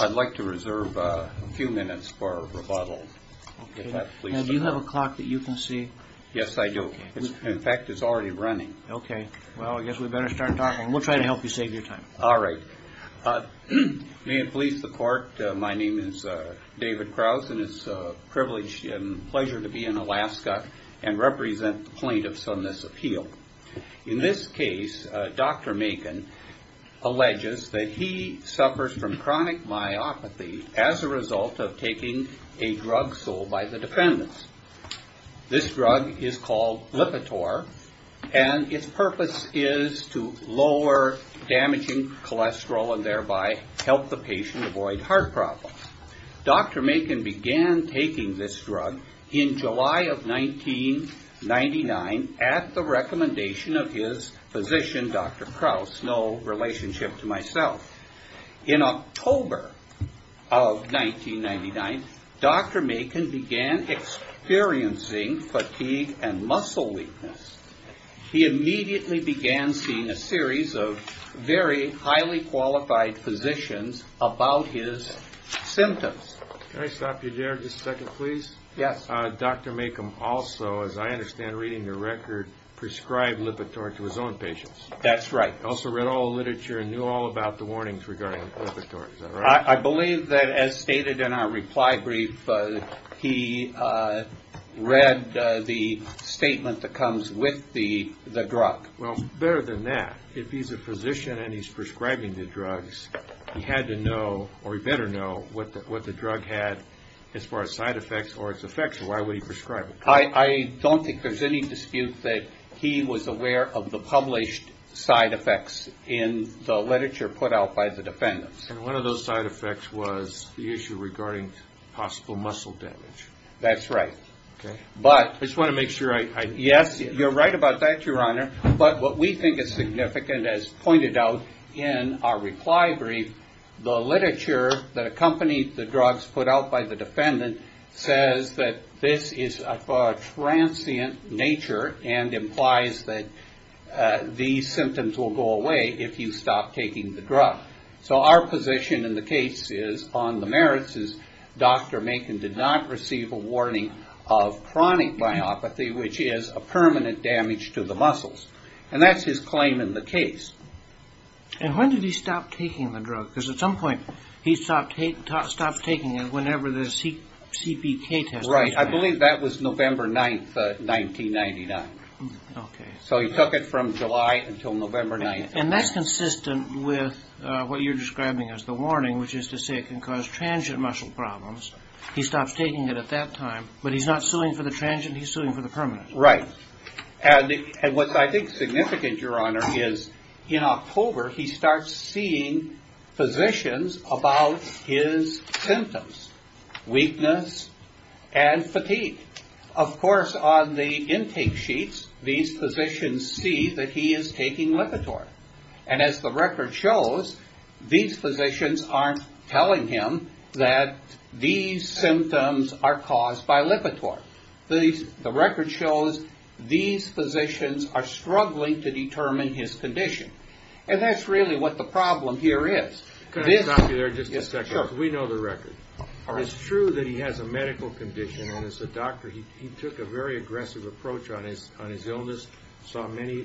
I'd like to reserve a few minutes for rebuttal. Do you have a clock that you can see? Yes, I do. In fact, it's already running. Okay. Well, I guess we better start talking. We'll try to help you save your time. All right. May it please the Court, my name is David Krause, and it's a privilege and pleasure to be in Alaska and represent the plaintiffs on this appeal. In this case, Dr. Makin alleges that he suffers from chronic myopathy as a result of taking a drug sold by the defendants. This drug is called Lipitor, and its purpose is to lower damaging cholesterol and thereby help the patient avoid heart problems. Dr. Makin began taking this drug in July of 1999 at the recommendation of his physician, Dr. Krause, no relationship to myself. In October of 1999, Dr. Makin began experiencing fatigue and muscle weakness. He immediately began seeing a series of very highly qualified physicians about his symptoms. Can I stop you there just a second, please? Yes. Dr. Makin also, as I understand reading your record, prescribed Lipitor to his own patients. That's right. He also read all the literature and knew all about the warnings regarding Lipitor. Is that right? I believe that, as stated in our reply brief, he read the statement that comes with the drug. Well, better than that, if he's a physician and he's prescribing the drugs, he had to know or he better know what the drug had as far as side effects or its effects, or why would he prescribe it. I don't think there's any dispute that he was aware of the published side effects in the literature put out by the defendants. And one of those side effects was the issue regarding possible muscle damage. That's right. Okay. But... I just want to make sure I... Yes, you're right about that, Your Honor. But what we think is significant, as pointed out in our reply brief, the literature that accompanied the drugs put out by the defendant says that this is of a transient nature and implies that these symptoms will go away if you stop taking the drug. So our position in the case is, on the merits, is Dr. Macon did not receive a warning of chronic myopathy, which is a permanent damage to the muscles. And that's his claim in the case. And when did he stop taking the drug? Because at some point he stopped taking it whenever the CBK test was... Right. I believe that was November 9, 1999. Okay. So he took it from July until November 9, 1999. And that's consistent with what you're describing as the warning, which is to say it can cause transient muscle problems. He stops taking it at that time, but he's not suing for the transient. He's suing for the permanent. Right. And what I think is significant, Your Honor, is in October, he starts seeing physicians about his symptoms, weakness and fatigue. Of course, on the intake sheets, these physicians see that he is taking Lipitor. And as the record shows, these physicians aren't telling him that these symptoms are caused by Lipitor. The record shows these physicians are struggling to determine his condition. And that's really what the problem here is. Can I stop you there just a second? Sure. Because we know the record. It's true that he has a medical condition. And as a doctor, he took a very aggressive approach on his illness. He saw many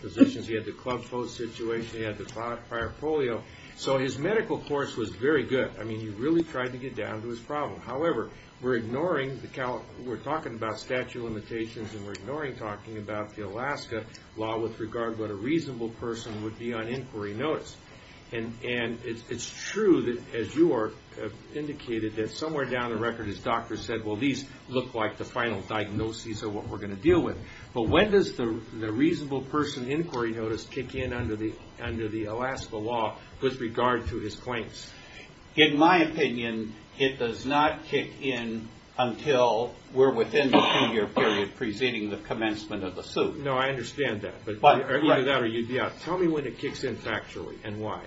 physicians. He had the club post situation. He had the prior polio. So his medical course was very good. I mean, he really tried to get down to his problem. However, we're talking about statute of limitations and we're ignoring talking about the Alaska law with regard to what a reasonable person would be on inquiry notice. And it's true that, as you have indicated, that somewhere down the record his doctor said, well, these look like the final diagnoses of what we're going to deal with. But when does the reasonable person inquiry notice kick in under the Alaska law with regard to his claims? In my opinion, it does not kick in until we're within the two-year period preceding the commencement of the suit. No, I understand that. Either that or you'd be out. Tell me when it kicks in factually and why.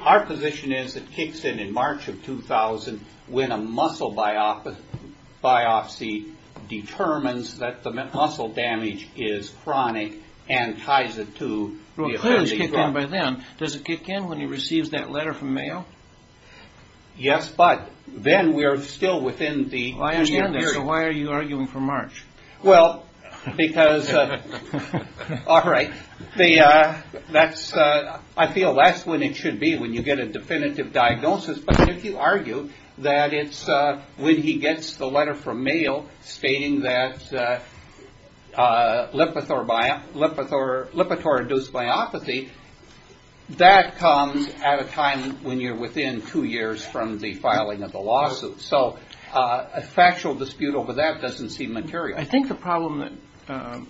Our position is it kicks in in March of 2000 when a muscle biopsy determines that the muscle damage is chronic and ties it to the offending drug. Well, claims kick in by then. Does it kick in when he receives that letter from Mayo? Yes, but then we are still within the two-year period. So why are you arguing for March? Well, because, all right, I feel that's when it should be, when you get a definitive diagnosis. But if you argue that it's when he gets the letter from Mayo stating that Lipitor-induced myopathy, that comes at a time when you're within two years from the filing of the lawsuit. So a factual dispute over that doesn't seem material. I think the problem that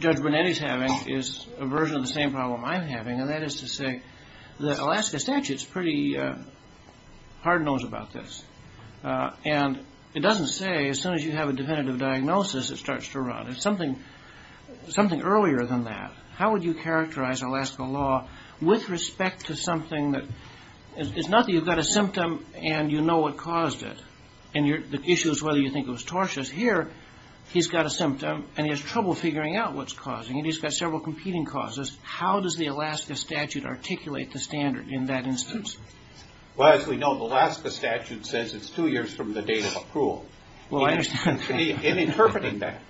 Judge Bonetti is having is a version of the same problem I'm having, and that is to say the Alaska statute is pretty hard-nosed about this. And it doesn't say as soon as you have a definitive diagnosis it starts to run. It's something earlier than that. How would you characterize Alaska law with respect to something that It's not that you've got a symptom and you know what caused it, and the issue is whether you think it was tortious. Here, he's got a symptom and he has trouble figuring out what's causing it. He's got several competing causes. How does the Alaska statute articulate the standard in that instance? Well, as we know, the Alaska statute says it's two years from the date of approval. Well, I understand that. In interpreting that,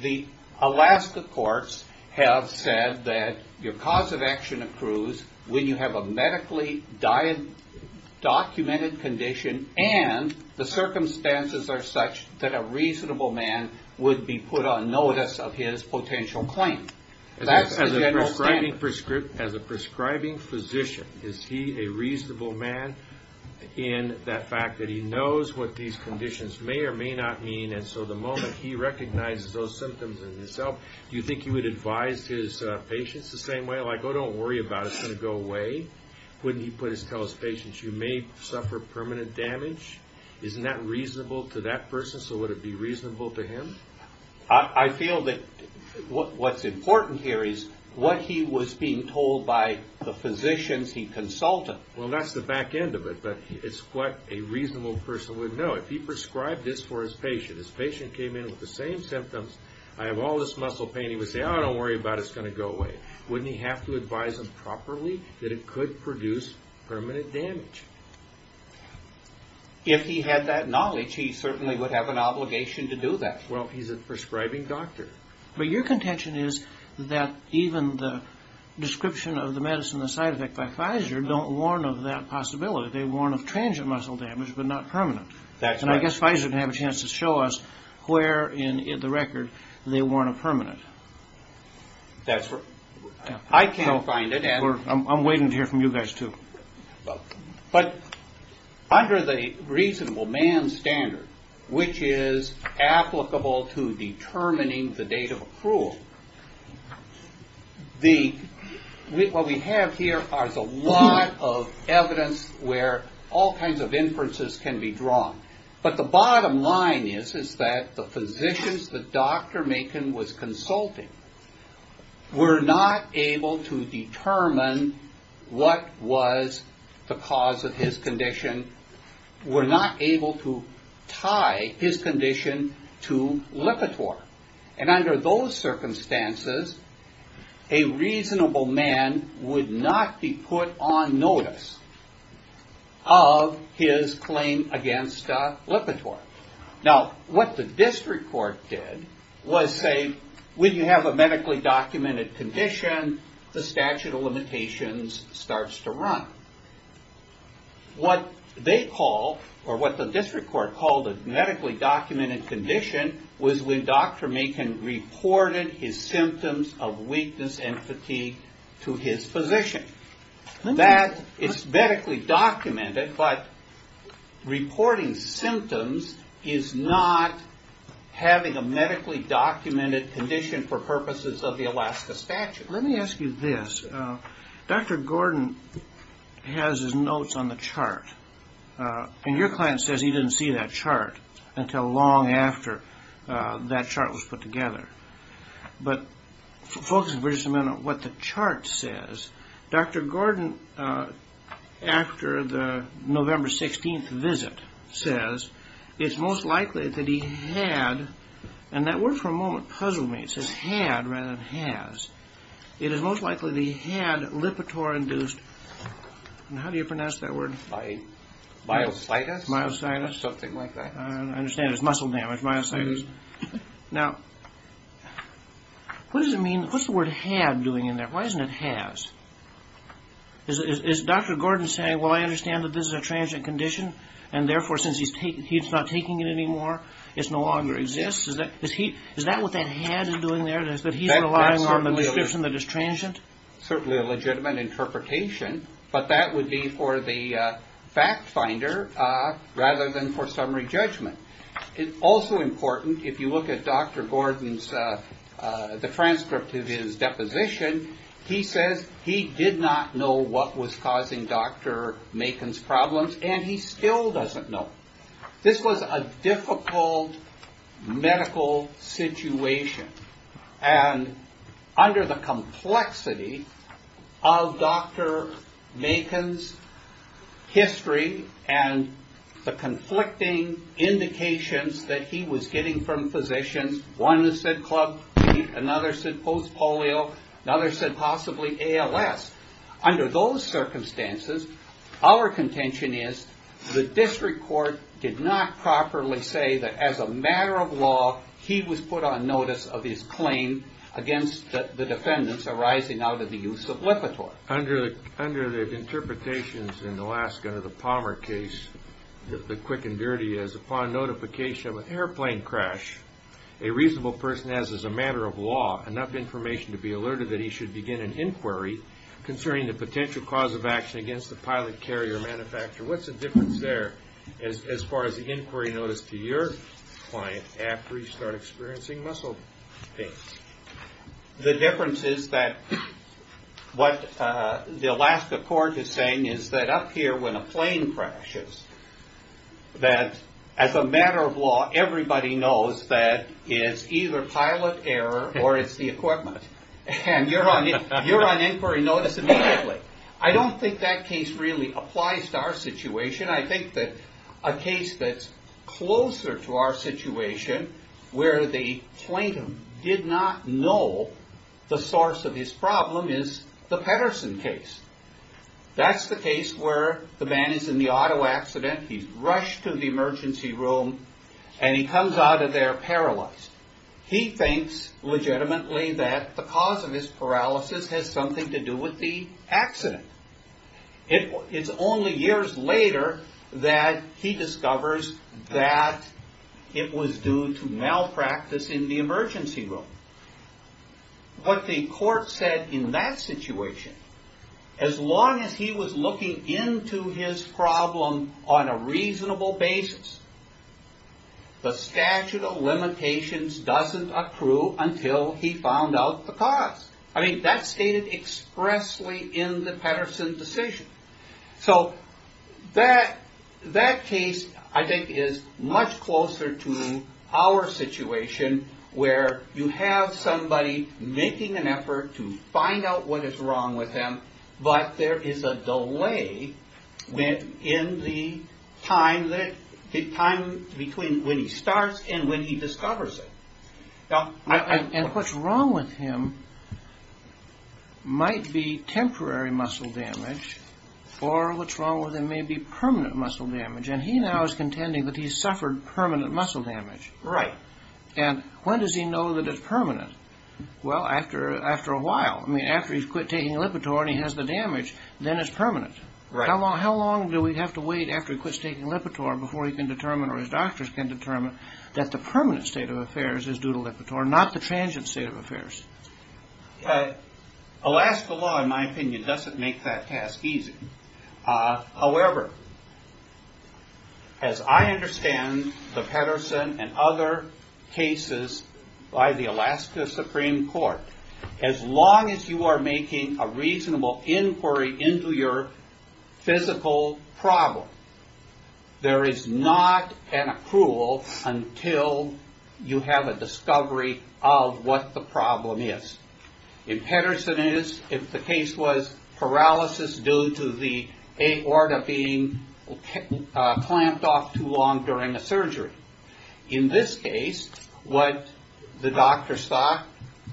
the Alaska courts have said that your cause of action accrues when you have a medically documented condition and the circumstances are such that a reasonable man would be put on notice of his potential claim. That's the general standard. As a prescribing physician, is he a reasonable man in that fact that he knows what these conditions may or may not mean, and so the moment he recognizes those symptoms in himself, do you think he would advise his patients the same way? Like, oh, don't worry about it. It's going to go away. Wouldn't he tell his patients, you may suffer permanent damage? Isn't that reasonable to that person, so would it be reasonable to him? I feel that what's important here is what he was being told by the physicians he consulted. Well, that's the back end of it, but it's what a reasonable person would know. If he prescribed this for his patient, his patient came in with the same symptoms, I have all this muscle pain, he would say, oh, don't worry about it. It's going to go away. Wouldn't he have to advise them properly that it could produce permanent damage? If he had that knowledge, he certainly would have an obligation to do that. Well, he's a prescribing doctor. But your contention is that even the description of the medicine, the side effect by Pfizer, don't warn of that possibility. They warn of transient muscle damage but not permanent. And I guess Pfizer would have a chance to show us where in the record they warn of permanent. I can't find it. I'm waiting to hear from you guys, too. But under the reasonable man standard, which is applicable to determining the date of approval, what we have here is a lot of evidence where all kinds of inferences can be drawn. But the bottom line is that the physicians that Dr. Macon was consulting were not able to determine what was the cause of his condition, were not able to tie his condition to Lipitor. And under those circumstances, a reasonable man would not be put on notice of his claim against Lipitor. Now, what the district court did was say, when you have a medically documented condition, the statute of limitations starts to run. What they call, or what the district court called a medically documented condition, was when Dr. Macon reported his symptoms of weakness and fatigue to his physician. That is medically documented, but reporting symptoms is not having a medically documented condition for purposes of the Alaska statute. Let me ask you this. Dr. Gordon has his notes on the chart, and your client says he didn't see that chart until long after that chart was put together. But focus for just a minute on what the chart says. Dr. Gordon, after the November 16th visit, says it's most likely that he had, and that word for a moment puzzled me. It says had rather than has. It is most likely that he had Lipitor-induced, and how do you pronounce that word? Myositis? Myositis. Something like that. I understand it's muscle damage, myositis. Now, what does it mean, what's the word had doing in there? Why isn't it has? Is Dr. Gordon saying, well, I understand that this is a transient condition, and therefore since he's not taking it anymore, it no longer exists? Is that what that had is doing there, that he's relying on the description that it's transient? That's certainly a legitimate interpretation, but that would be for the fact finder rather than for summary judgment. Also important, if you look at Dr. Gordon's, the transcript of his deposition, he says he did not know what was causing Dr. Macon's problems, and he still doesn't know. This was a difficult medical situation, and under the complexity of Dr. Macon's history and the conflicting indications that he was getting from physicians, one said club feet, another said post-polio, another said possibly ALS. Under those circumstances, our contention is, the district court did not properly say that as a matter of law, he was put on notice of his claim against the defendants arising out of the use of Lipitor. Under the interpretations in Alaska, the Palmer case, the quick and dirty is upon notification of an airplane crash, a reasonable person has as a matter of law enough information to be alerted that he should begin an inquiry concerning the potential cause of action against the pilot carrier manufacturer. What's the difference there as far as the inquiry notice to your client after he started experiencing muscle pain? The difference is that what the Alaska court is saying is that up here when a plane crashes, that as a matter of law, everybody knows that it's either pilot error or it's the equipment. And you're on inquiry notice immediately. I don't think that case really applies to our situation. I think that a case that's closer to our situation, where the plaintiff did not know the source of his problem is the Pedersen case. That's the case where the man is in the auto accident, he's rushed to the emergency room, and he comes out of there paralyzed. He thinks legitimately that the cause of his paralysis has something to do with the accident. It's only years later that he discovers that it was due to malpractice in the emergency room. What the court said in that situation, as long as he was looking into his problem on a reasonable basis, the statute of limitations doesn't accrue until he found out the cause. That's stated expressly in the Pedersen decision. That case, I think, is much closer to our situation, where you have somebody making an effort to find out what is wrong with him, but there is a delay in the time between when he starts and when he discovers it. And what's wrong with him might be temporary muscle damage, or what's wrong with him may be permanent muscle damage. And he now is contending that he suffered permanent muscle damage. Right. And when does he know that it's permanent? Well, after a while. I mean, after he's quit taking Lipitor and he has the damage, then it's permanent. How long do we have to wait after he quits taking Lipitor before he can determine, or his doctors can determine, that the permanent state of affairs is due to Lipitor, not the transient state of affairs? Alaska law, in my opinion, doesn't make that task easy. However, as I understand the Pedersen and other cases by the Alaska Supreme Court, as long as you are making a reasonable inquiry into your physical problem, there is not an approval until you have a discovery of what the problem is. In Pedersen's case, if the case was paralysis due to the aorta being clamped off too long during a surgery. In this case, what the doctors thought,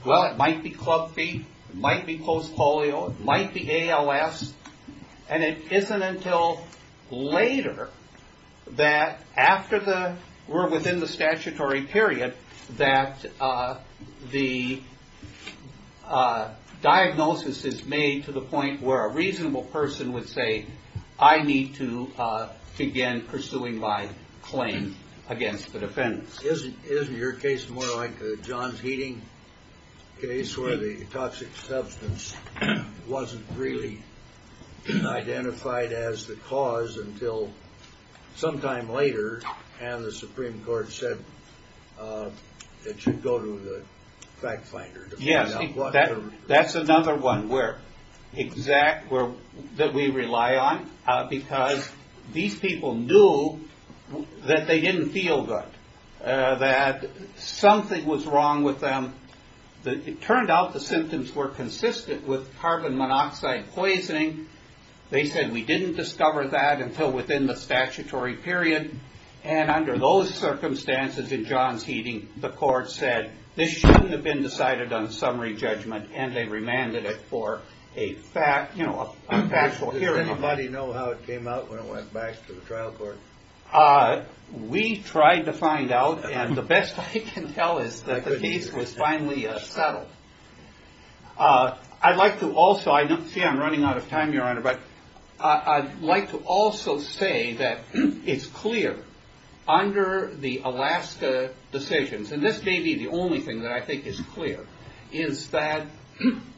well, it might be club feet. It might be post-polio. It might be ALS. And it isn't until later that, after we're within the statutory period, that the diagnosis is made to the point where a reasonable person would say, I need to begin pursuing my claim against the defendants. Isn't your case more like the Johns Heating case, where the toxic substance wasn't really identified as the cause until sometime later, and the Supreme Court said that you go to the fact finder to find out what the reason was? That's another one that we rely on, because these people knew that they didn't feel good. That something was wrong with them. It turned out the symptoms were consistent with carbon monoxide poisoning. They said, we didn't discover that until within the statutory period. And under those circumstances in Johns Heating, the court said, this shouldn't have been decided on a summary judgment, and they remanded it for a factual hearing. Does anybody know how it came out when it went back to the trial court? We tried to find out, and the best I can tell is that the case was finally settled. I'd like to also, I don't see I'm running out of time, Your Honor, but I'd like to also say that it's clear, under the Alaska decisions, and this may be the only thing that I think is clear, is that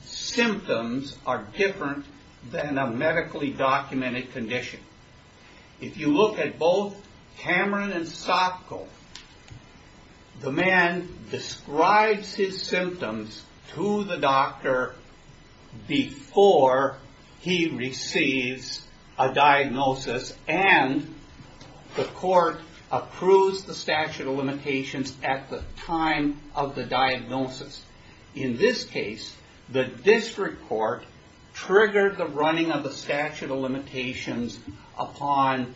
symptoms are different than a medically documented condition. If you look at both Cameron and Sotko, the man describes his symptoms to the doctor before he receives a diagnosis, and the court approves the statute of limitations at the time of the diagnosis. In this case, the district court triggered the running of the statute of limitations upon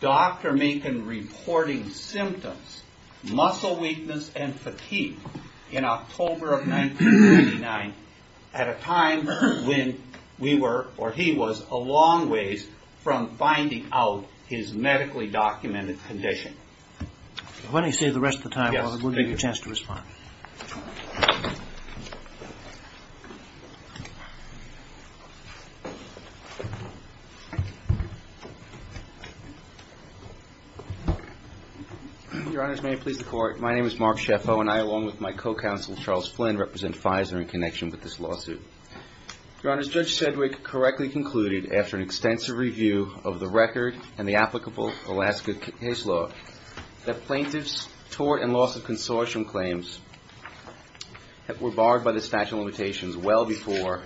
Dr. Macon reporting symptoms, muscle weakness and fatigue, in October of 1999, at a time when we were, or he was, a long ways from finding out his medically documented condition. If I may say the rest of the time, we'll give you a chance to respond. Your Honors, may I please report? My name is Mark Shefo, and I, along with my co-counsel, Charles Flynn, represent Pfizer in connection with this lawsuit. Your Honors, Judge Sedgwick correctly concluded, after an extensive review of the record and the applicable Alaska case law, that plaintiffs' tort and loss of consortium claims were barred by the statute of limitations well before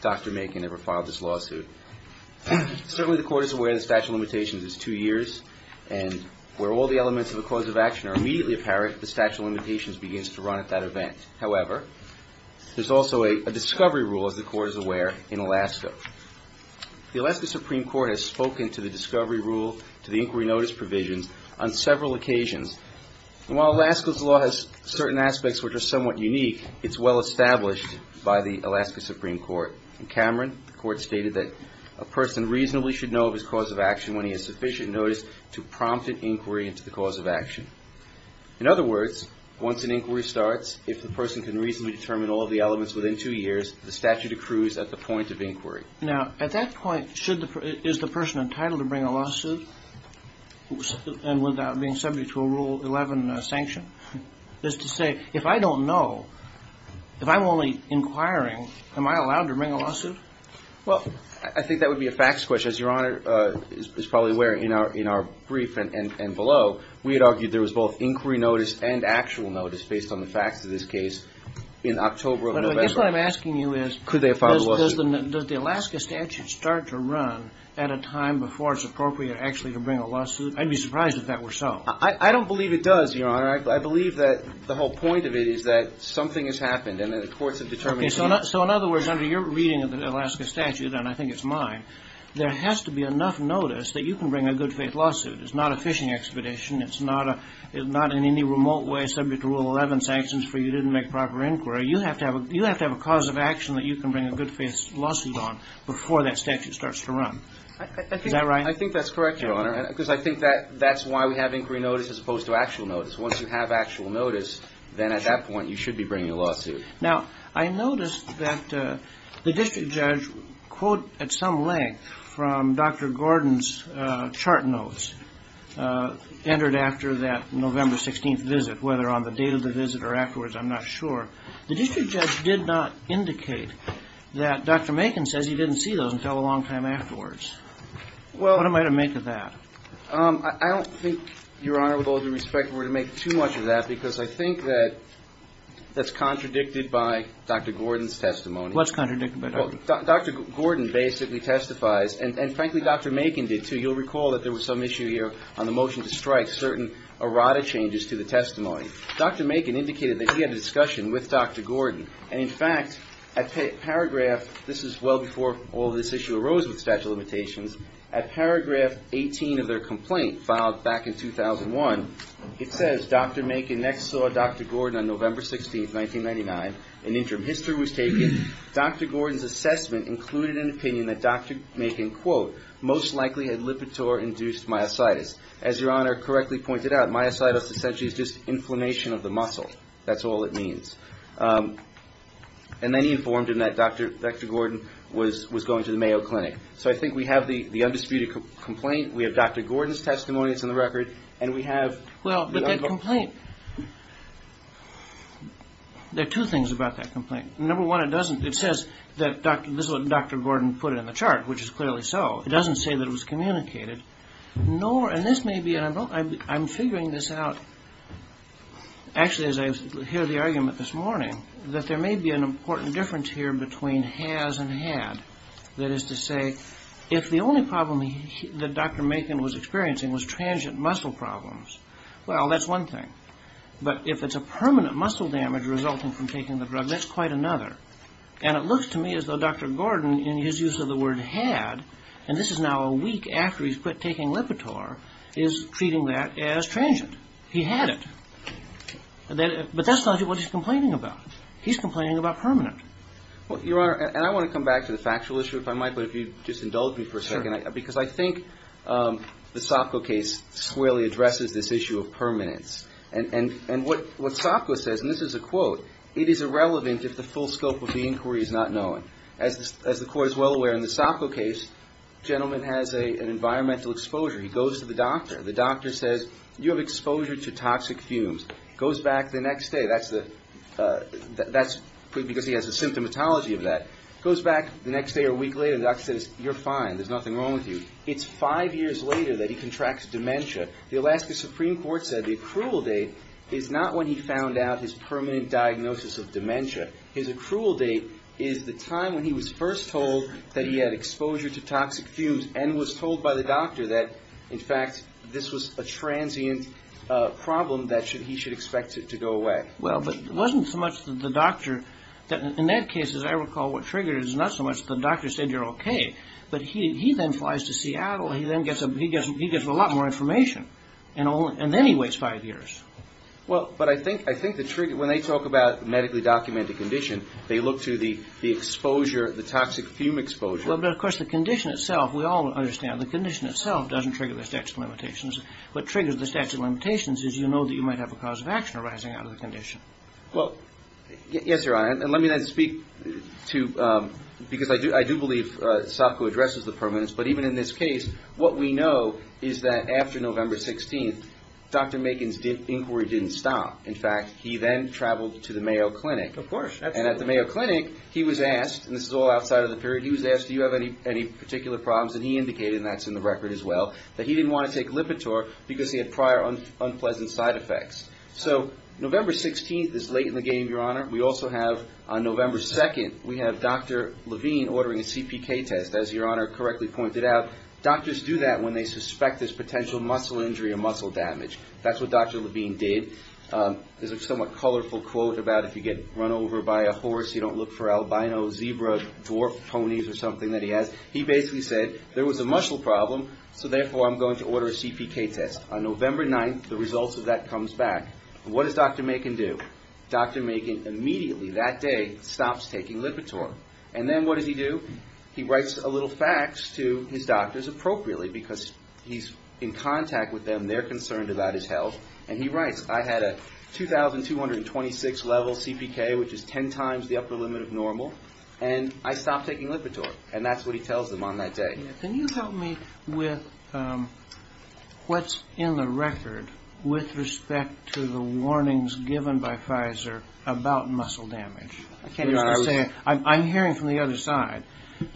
Dr. Macon ever filed this lawsuit. Certainly the court is aware the statute of limitations is two years, and where all the elements of a clause of action are immediately apparent, the statute of limitations begins to run at that event. However, there's also a discovery rule, as the court is aware, in Alaska. The Alaska Supreme Court has spoken to the discovery rule, to the inquiry notice provisions, on several occasions, and while Alaska's law has certain aspects which are somewhat unique, it's well established by the Alaska Supreme Court. In Cameron, the court stated that a person reasonably should know of his cause of action when he has sufficient notice to prompt an inquiry into the cause of action. In other words, once an inquiry starts, if the person can reasonably determine all of the elements within two years, the statute accrues at the point of inquiry. Now, at that point, is the person entitled to bring a lawsuit without being subject to a Rule 11 sanction? That is to say, if I don't know, if I'm only inquiring, am I allowed to bring a lawsuit? Well, I think that would be a facts question. As Your Honor is probably aware, in our brief and below, we had argued there was both inquiry notice and actual notice, based on the facts of this case, in October of November. But I guess what I'm asking you is does the Alaska statute start to run at a time before it's appropriate actually to bring a lawsuit? I'd be surprised if that were so. I don't believe it does, Your Honor. I believe that the whole point of it is that something has happened and that the courts have determined it's needed. So in other words, under your reading of the Alaska statute, and I think it's mine, there has to be enough notice that you can bring a good-faith lawsuit. It's not a fishing expedition. It's not in any remote way subject to Rule 11 sanctions for you didn't make proper inquiry. You have to have a cause of action that you can bring a good-faith lawsuit on before that statute starts to run. Is that right? I think that's correct, Your Honor, because I think that's why we have inquiry notice as opposed to actual notice. Once you have actual notice, then at that point you should be bringing a lawsuit. Now, I noticed that the district judge quote at some length from Dr. Gordon's chart notes entered after that November 16th visit, whether on the date of the visit or afterwards, I'm not sure. The district judge did not indicate that Dr. Macon says he didn't see those until a long time afterwards. What am I to make of that? I don't think, Your Honor, with all due respect, we're going to make too much of that because I think that that's contradicted by Dr. Gordon's testimony. What's contradicted by Dr. Gordon? Dr. Gordon basically testifies, and frankly Dr. Macon did too. You'll recall that there was some issue here on the motion to strike certain errata changes to the testimony. Dr. Macon indicated that he had a discussion with Dr. Gordon, and in fact at paragraph, this is well before all this issue arose with statute of limitations, at paragraph 18 of their complaint filed back in 2001, it says, Dr. Macon next saw Dr. Gordon on November 16th, 1999. An interim history was taken. Dr. Gordon's assessment included an opinion that Dr. Macon quote, most likely had Lipitor-induced myositis. As Your Honor correctly pointed out, myositis essentially is just inflammation of the muscle. That's all it means. And then he informed him that Dr. Gordon was going to the Mayo Clinic. So I think we have the undisputed complaint. We have Dr. Gordon's testimony that's in the record, and we have the other. Well, but that complaint, there are two things about that complaint. Number one, it doesn't, it says that Dr. Gordon put it in the chart, which is clearly so. It doesn't say that it was communicated. Nor, and this may be, and I'm figuring this out, actually as I hear the argument this morning, that there may be an important difference here between has and had. That is to say, if the only problem that Dr. Macon was experiencing was transient muscle problems, well, that's one thing. But if it's a permanent muscle damage resulting from taking the drug, that's quite another. And it looks to me as though Dr. Gordon, in his use of the word had, and this is now a week after he's quit taking Lipitor, is treating that as transient. He had it. But that's not what he's complaining about. He's complaining about permanent. Well, Your Honor, and I want to come back to the factual issue if I might, but if you just indulge me for a second. Because I think the Sopko case squarely addresses this issue of permanence. And what Sopko says, and this is a quote, it is irrelevant if the full scope of the inquiry is not known. As the Court is well aware in the Sopko case, the gentleman has an environmental exposure. He goes to the doctor. The doctor says, you have exposure to toxic fumes. Goes back the next day. That's because he has a symptomatology of that. Goes back the next day or week later, the doctor says, you're fine. There's nothing wrong with you. It's five years later that he contracts dementia. The Alaska Supreme Court said the accrual date is not when he found out his permanent diagnosis of dementia. His accrual date is the time when he was first told that he had exposure to toxic fumes and was told by the doctor that, in fact, this was a transient problem that he should expect to go away. Well, but it wasn't so much the doctor. In that case, as I recall, what triggered it is not so much the doctor said you're okay, but he then flies to Seattle. He then gets a lot more information, and then he waits five years. Well, but I think the trigger, when they talk about medically documented condition, they look to the exposure, the toxic fume exposure. Well, but, of course, the condition itself, we all understand, the condition itself doesn't trigger the statute of limitations. What triggers the statute of limitations is you know that you might have a cause of action arising out of the condition. Well, yes, Your Honor, and let me then speak to, because I do believe Sopko addresses the permanence, but even in this case, what we know is that after November 16th, Dr. Makin's inquiry didn't stop. In fact, he then traveled to the Mayo Clinic. Of course. And at the Mayo Clinic, he was asked, and this is all outside of the period, he was asked do you have any particular problems, and he indicated, and that's in the record as well, that he didn't want to take Lipitor because he had prior unpleasant side effects. So November 16th is late in the game, Your Honor. We also have on November 2nd, we have Dr. Levine ordering a CPK test, as Your Honor correctly pointed out. Doctors do that when they suspect there's potential muscle injury or muscle damage. That's what Dr. Levine did. There's a somewhat colorful quote about if you get run over by a horse, you don't look for albinos, zebra, dwarf ponies or something that he has. He basically said there was a muscle problem, so therefore I'm going to order a CPK test. On November 9th, the results of that comes back. What does Dr. Makin do? Dr. Makin immediately that day stops taking Lipitor. And then what does he do? He writes a little fax to his doctors appropriately because he's in contact with them, they're concerned about his health, and he writes, I had a 2,226 level CPK, which is 10 times the upper limit of normal, and I stopped taking Lipitor. And that's what he tells them on that day. Can you help me with what's in the record with respect to the warnings given by Pfizer about muscle damage? I'm hearing from the other side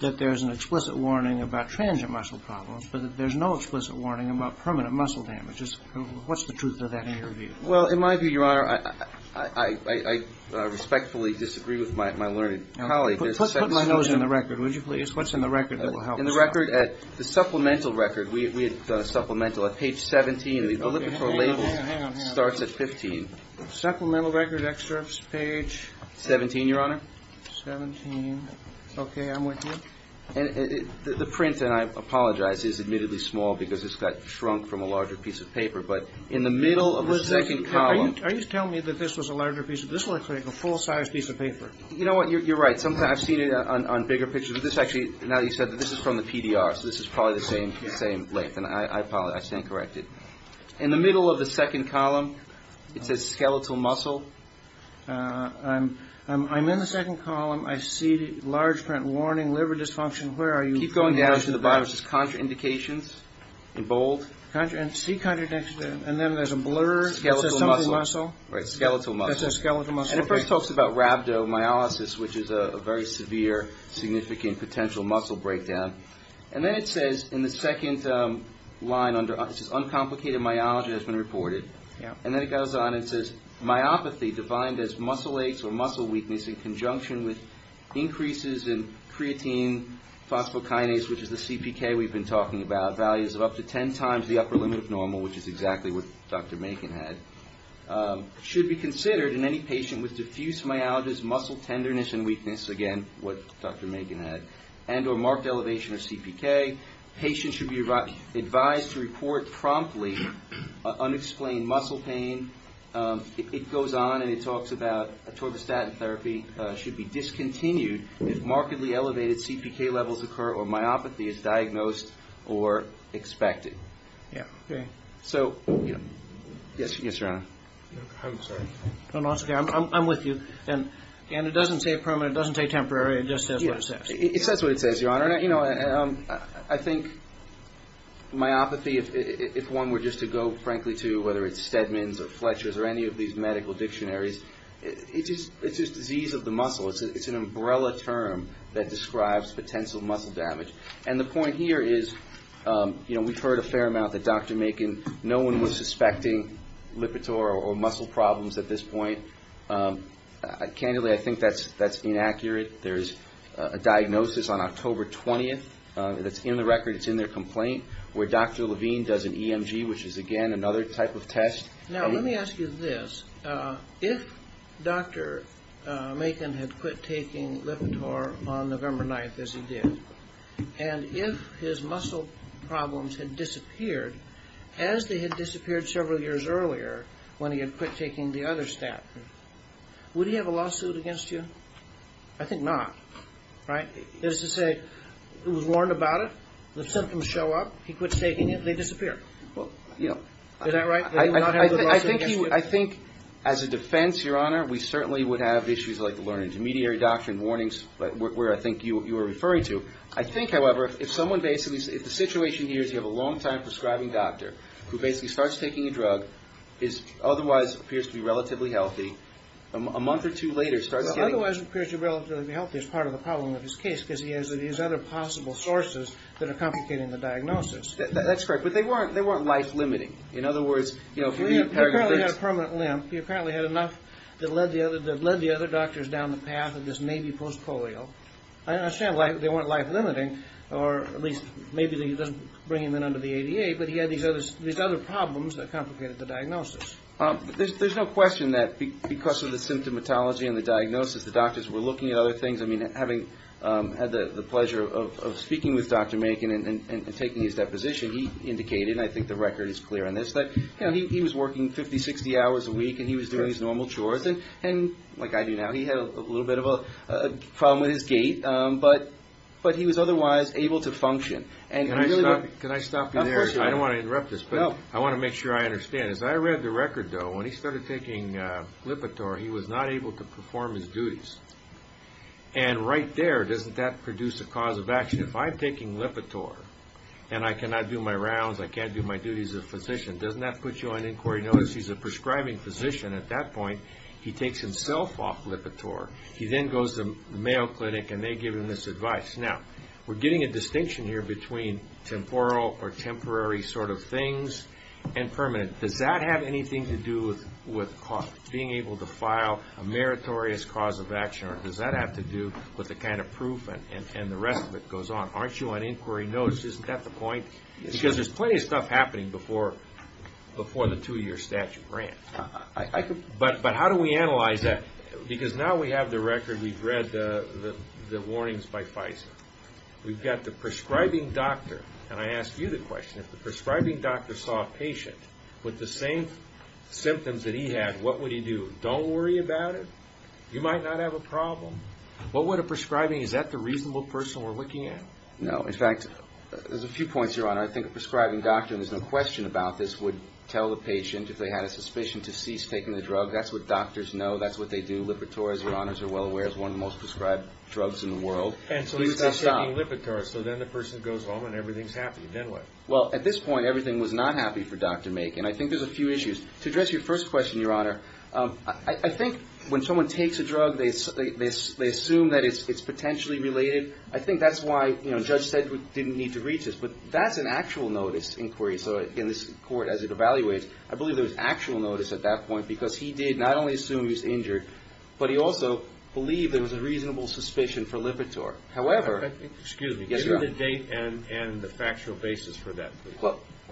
that there's an explicit warning about transient muscle problems, but that there's no explicit warning about permanent muscle damage. What's the truth of that in your view? Well, in my view, Your Honor, I respectfully disagree with my learned colleague. Put my nose in the record, would you please? What's in the record that will help us? In the record at the supplemental record, we had done a supplemental at page 17. The Lipitor label starts at 15. Supplemental record extracts page? 17, Your Honor. 17. Okay. I'm with you. And the print, and I apologize, is admittedly small because it's got shrunk from a larger piece of paper. But in the middle of the second column. Are you telling me that this was a larger piece of paper? This looks like a full-sized piece of paper. You know what? You're right. I've seen it on bigger pictures. This actually, now you said that this is from the PDR, so this is probably the same length. And I stand corrected. In the middle of the second column, it says skeletal muscle. I'm in the second column. I see large print, warning liver dysfunction. Keep going down to the bottom. It says contraindications in bold. See contraindications. And then there's a blur. Skeletal muscle. Skeletal muscle. It says skeletal muscle. And it first talks about rhabdomyolysis, which is a very severe, significant, potential muscle breakdown. And then it says in the second line, it says uncomplicated myology has been reported. And then it goes on and says myopathy, defined as muscle aches or muscle weakness in conjunction with increases in creatine, phosphokinase, which is the CPK we've been talking about, values of up to 10 times the upper limit of normal, which is exactly what Dr. Makin had, should be considered in any patient with diffuse myalgias, muscle tenderness and weakness, again, what Dr. Makin had, and or marked elevation of CPK. Patients should be advised to report promptly unexplained muscle pain. It goes on and it talks about atorvastatin therapy should be discontinued if markedly elevated CPK levels occur or myopathy is diagnosed or expected. So, yes, Your Honor. I'm sorry. No, no, it's okay. I'm with you. And it doesn't say permanent, it doesn't say temporary, it just says what it says. It says what it says, Your Honor. I think myopathy, if one were just to go, frankly, to whether it's Stedman's or Fletcher's or any of these medical dictionaries, it's just disease of the muscle. It's an umbrella term that describes potential muscle damage. And the point here is, you know, we've heard a fair amount that Dr. Makin, no one was suspecting Lipitor or muscle problems at this point. Candidly, I think that's inaccurate. There is a diagnosis on October 20th that's in the record, it's in their complaint, where Dr. Levine does an EMG, which is, again, another type of test. Now, let me ask you this. If Dr. Makin had quit taking Lipitor on November 9th, as he did, and if his muscle problems had disappeared as they had disappeared several years earlier, when he had quit taking the other statin, would he have a lawsuit against you? I think not, right? That is to say, he was warned about it, the symptoms show up, he quits taking it, they disappear. Is that right, that he would not have a lawsuit against you? I think as a defense, Your Honor, we certainly would have issues like the learning intermediary doctrine, warnings, where I think you were referring to. I think, however, if someone basically, if the situation here is you have a long-time prescribing doctor who basically starts taking a drug, otherwise appears to be relatively healthy, a month or two later starts getting it. Otherwise appears to be relatively healthy is part of the problem of his case, because he has these other possible sources that are complicating the diagnosis. That's correct, but they weren't life-limiting. In other words, if you read paragraph 6... He apparently had a permanent limp. He apparently had enough that led the other doctors down the path of this maybe post-polio. I understand they weren't life-limiting, or at least maybe he doesn't bring him in under the ADA, but he had these other problems that complicated the diagnosis. There's no question that because of the symptomatology and the diagnosis, the doctors were looking at other things. I mean, having had the pleasure of speaking with Dr. Makin and taking his deposition, he indicated, and I think the record is clear on this, that he was working 50, 60 hours a week, and he was doing his normal chores, and like I do now, he had a little bit of a problem with his gait, but he was otherwise able to function. Can I stop you there? Of course you can. I don't want to interrupt this, but I want to make sure I understand. As I read the record, though, when he started taking Lipitor, he was not able to perform his duties. And right there, doesn't that produce a cause of action? If I'm taking Lipitor, and I cannot do my rounds, I can't do my duties as a physician, doesn't that put you on inquiry notice? He's a prescribing physician at that point. He takes himself off Lipitor. He then goes to the Mayo Clinic, and they give him this advice. Now, we're getting a distinction here between temporal or temporary sort of things and permanent. Does that have anything to do with being able to file a meritorious cause of action, or does that have to do with the kind of proof and the rest of it goes on? Aren't you on inquiry notice? Isn't that the point? Because there's plenty of stuff happening before the two-year statute ran. But how do we analyze that? Because now we have the record. We've read the warnings by Pfizer. We've got the prescribing doctor, and I ask you the question. If the prescribing doctor saw a patient with the same symptoms that he had, what would he do? Don't worry about it? You might not have a problem. What would a prescribing do? Is that the reasonable person we're looking at? In fact, there's a few points, Your Honor. I think a prescribing doctor, and there's no question about this, would tell the patient if they had a suspicion to cease taking the drug. That's what doctors know. That's what they do. Lipitor, as Your Honors are well aware, is one of the most prescribed drugs in the world. And so he would stop taking Lipitor. So then the person goes home and everything's happy. Then what? Well, at this point, everything was not happy for Dr. Makin. I think there's a few issues. To address your first question, Your Honor, I think when someone takes a drug, they assume that it's potentially related. I think that's why Judge Sedgwick didn't need to read this. But that's an actual notice inquiry. So in this court, as it evaluates, I believe there was actual notice at that point because he did not only assume he was injured, but he also believed there was a reasonable suspicion for Lipitor. However, Excuse me. Yes, Your Honor. Give me the date and the factual basis for that.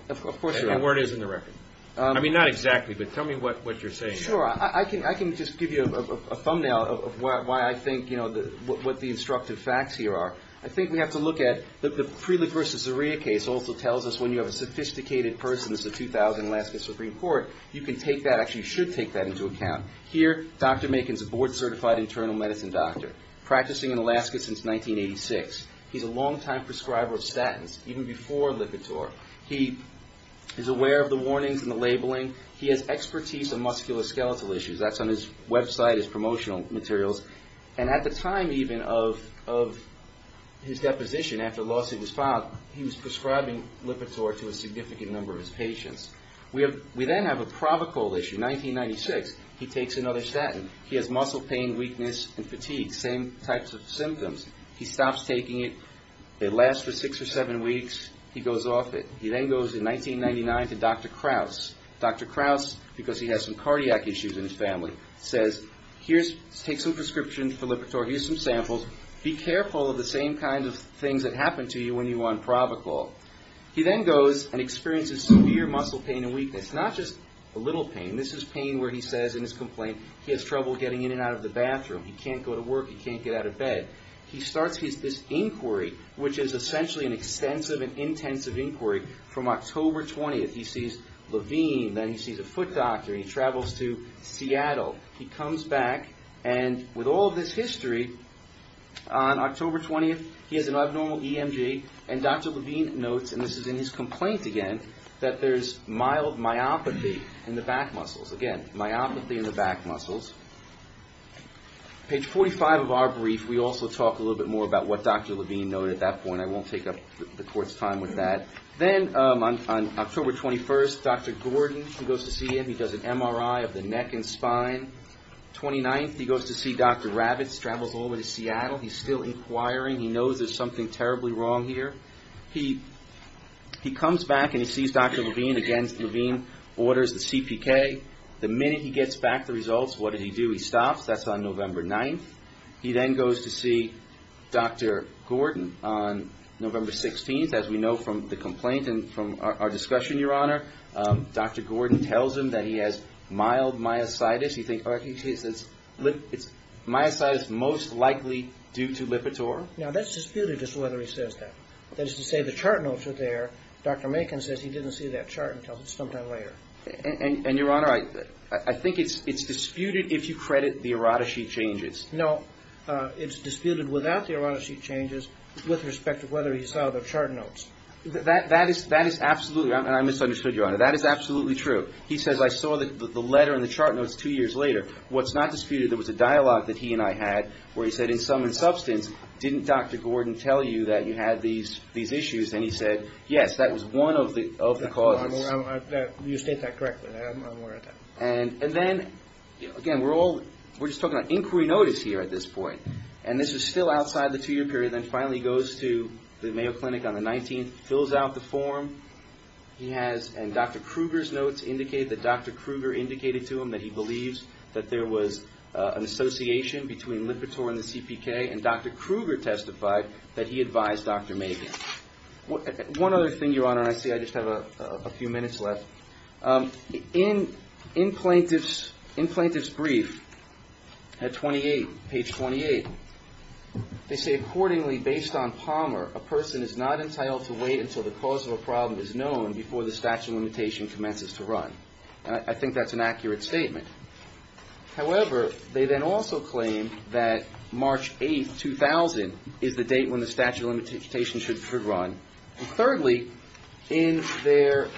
Of course, Your Honor. And where it is in the record. I mean, not exactly, but tell me what you're saying. Sure. I can just give you a thumbnail of why I think, you know, what the instructive facts here are. I think we have to look at the Prelip versus Zaria case also tells us when you have a sophisticated person that's a 2000 Alaska Supreme Court, you can take that, actually you should take that into account. Here, Dr. Makin's a board-certified internal medicine doctor, practicing in Alaska since 1986. He's a longtime prescriber of statins, even before Lipitor. He is aware of the warnings and the labeling. He has expertise in musculoskeletal issues. That's on his website, his promotional materials. And at the time, even, of his deposition after the lawsuit was filed, he was prescribing Lipitor to a significant number of his patients. We then have a provocal issue. 1996, he takes another statin. He has muscle pain, weakness, and fatigue. Same types of symptoms. He stops taking it. It lasts for six or seven weeks. He goes off it. He then goes in 1999 to Dr. Kraus. Dr. Kraus, because he has some cardiac issues in his family, says, here, take some prescriptions for Lipitor. Here's some samples. Be careful of the same kinds of things that happen to you when you're on provocal. He then goes and experiences severe muscle pain and weakness. Not just a little pain. This is pain where he says, in his complaint, he has trouble getting in and out of the bathroom. He can't go to work. He can't get out of bed. He starts this inquiry, which is essentially an extensive and intensive inquiry. From October 20th, he sees Levine. Then he sees a foot doctor. He travels to Seattle. He comes back, and with all of this history, on October 20th, he has an abnormal EMG, and Dr. Levine notes, and this is in his complaint again, that there's mild myopathy in the back muscles. Again, myopathy in the back muscles. Page 45 of our brief, we also talk a little bit more about what Dr. Levine noted at that point. I won't take up the court's time with that. Then, on October 21st, Dr. Gordon, who goes to see him, he does an MRI of the neck and spine. 29th, he goes to see Dr. Rabbitt. He travels all the way to Seattle. He's still inquiring. He knows there's something terribly wrong here. He comes back, and he sees Dr. Levine. Again, Levine orders the CPK. The minute he gets back the results, what did he do? He stops. That's on November 9th. He then goes to see Dr. Gordon on November 16th. As we know from the complaint and from our discussion, Your Honor, Dr. Gordon tells him that he has mild myositis. He says, myositis most likely due to Lipitor. Now, that's disputed as to whether he says that. That is to say, the chart notes are there. Dr. Makin says he didn't see that chart until sometime later. And, Your Honor, I think it's disputed if you credit the errata sheet changes. No, it's disputed without the errata sheet changes with respect to whether he saw the chart notes. That is absolutely right, and I misunderstood, Your Honor. That is absolutely true. He says, I saw the letter and the chart notes two years later. What's not disputed, there was a dialogue that he and I had where he said, in sum and substance, didn't Dr. Gordon tell you that you had these issues? And he said, yes, that was one of the causes. You state that correctly. I'm aware of that. And then, again, we're just talking about inquiry notice here at this point. And this is still outside the two-year period. Then, finally, he goes to the Mayo Clinic on the 19th, fills out the form. He has Dr. Kruger's notes indicate that Dr. Kruger indicated to him that he believes that there was an association between Lipitor and the CPK, and Dr. Kruger testified that he advised Dr. Magan. One other thing, Your Honor, and I see I just have a few minutes left. In Plaintiff's brief at 28, page 28, they say, accordingly, based on Palmer, a person is not entitled to wait until the cause of a problem is known before the statute of limitation commences to run. I think that's an accurate statement. However, they then also claim that March 8, 2000, is the date when the statute of limitation should run. And thirdly, in their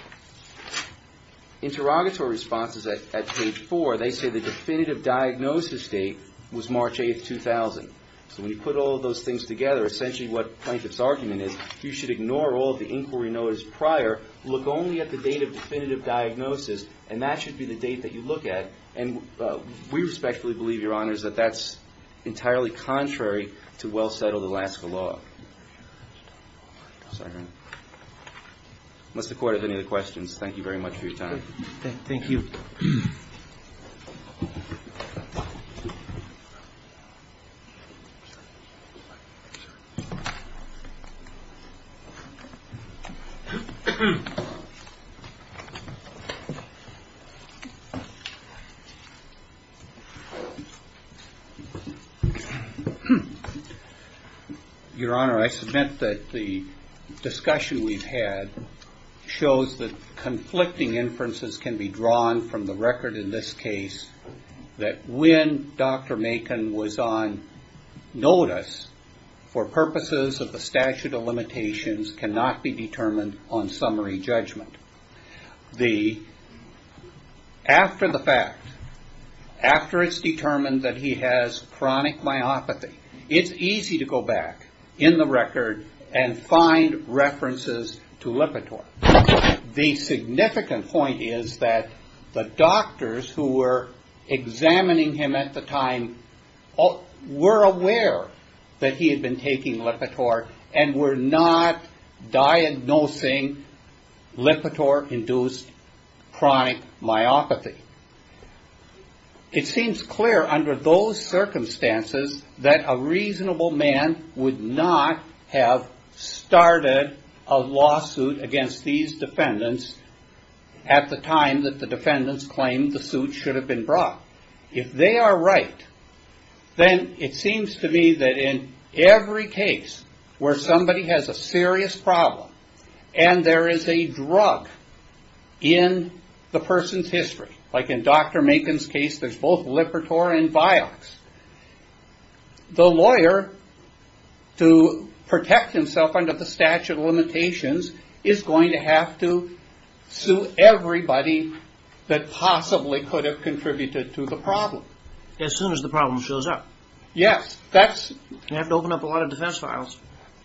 interrogatory responses at page 4, they say the definitive diagnosis date was March 8, 2000. So when you put all of those things together, essentially what Plaintiff's argument is, you should ignore all of the inquiry notice prior, look only at the date of definitive diagnosis, and that should be the date that you look at. And we respectfully believe, Your Honors, that that's entirely contrary to well-settled Alaska law. Unless the Court has any other questions, thank you very much for your time. Thank you. Your Honor, I submit that the discussion we've had shows that conflicting inferences can be drawn from the record in this case, that when Dr. Macon was on notice for purposes of the statute of limitations cannot be determined on summary judgment. After the fact, after it's determined that he has chronic myopathy, it's easy to go back in the record and find references to Lipitor. The significant point is that the doctors who were examining him at the time were aware that he had been taking Lipitor and were not diagnosing Lipitor-induced chronic myopathy. It seems clear under those circumstances that a reasonable man would not have started a lawsuit against these defendants at the time that the defendants claimed the suit should have been brought. If they are right, then it seems to me that in every case where somebody has a serious problem and there is a drug in the person's history, like in Dr. Macon's case, there's both Lipitor and Vioxx, the lawyer, to protect himself under the statute of limitations, is going to have to sue everybody that possibly could have contributed to the problem. As soon as the problem shows up. Yes. You have to open up a lot of defense files.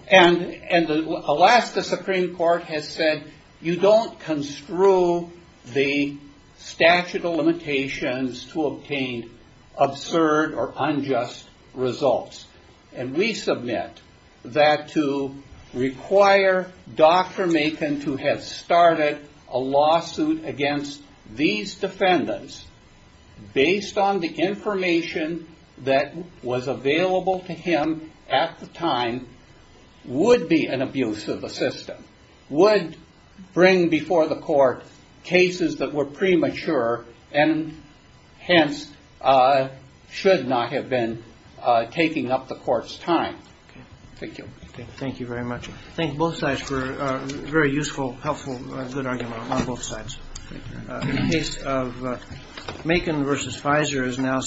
Alaska Supreme Court has said you don't construe the statute of limitations to obtain absurd or unjust results. We submit that to require Dr. Macon to have started a lawsuit against these defendants based on the information that was available to him at the time would be an abuse of the system, would bring before the court cases that were premature and hence should not have been taking up the court's time. Thank you. Thank you very much. Thank both sides for a very useful, helpful, good argument on both sides. In the case of Macon versus Pfizer is now.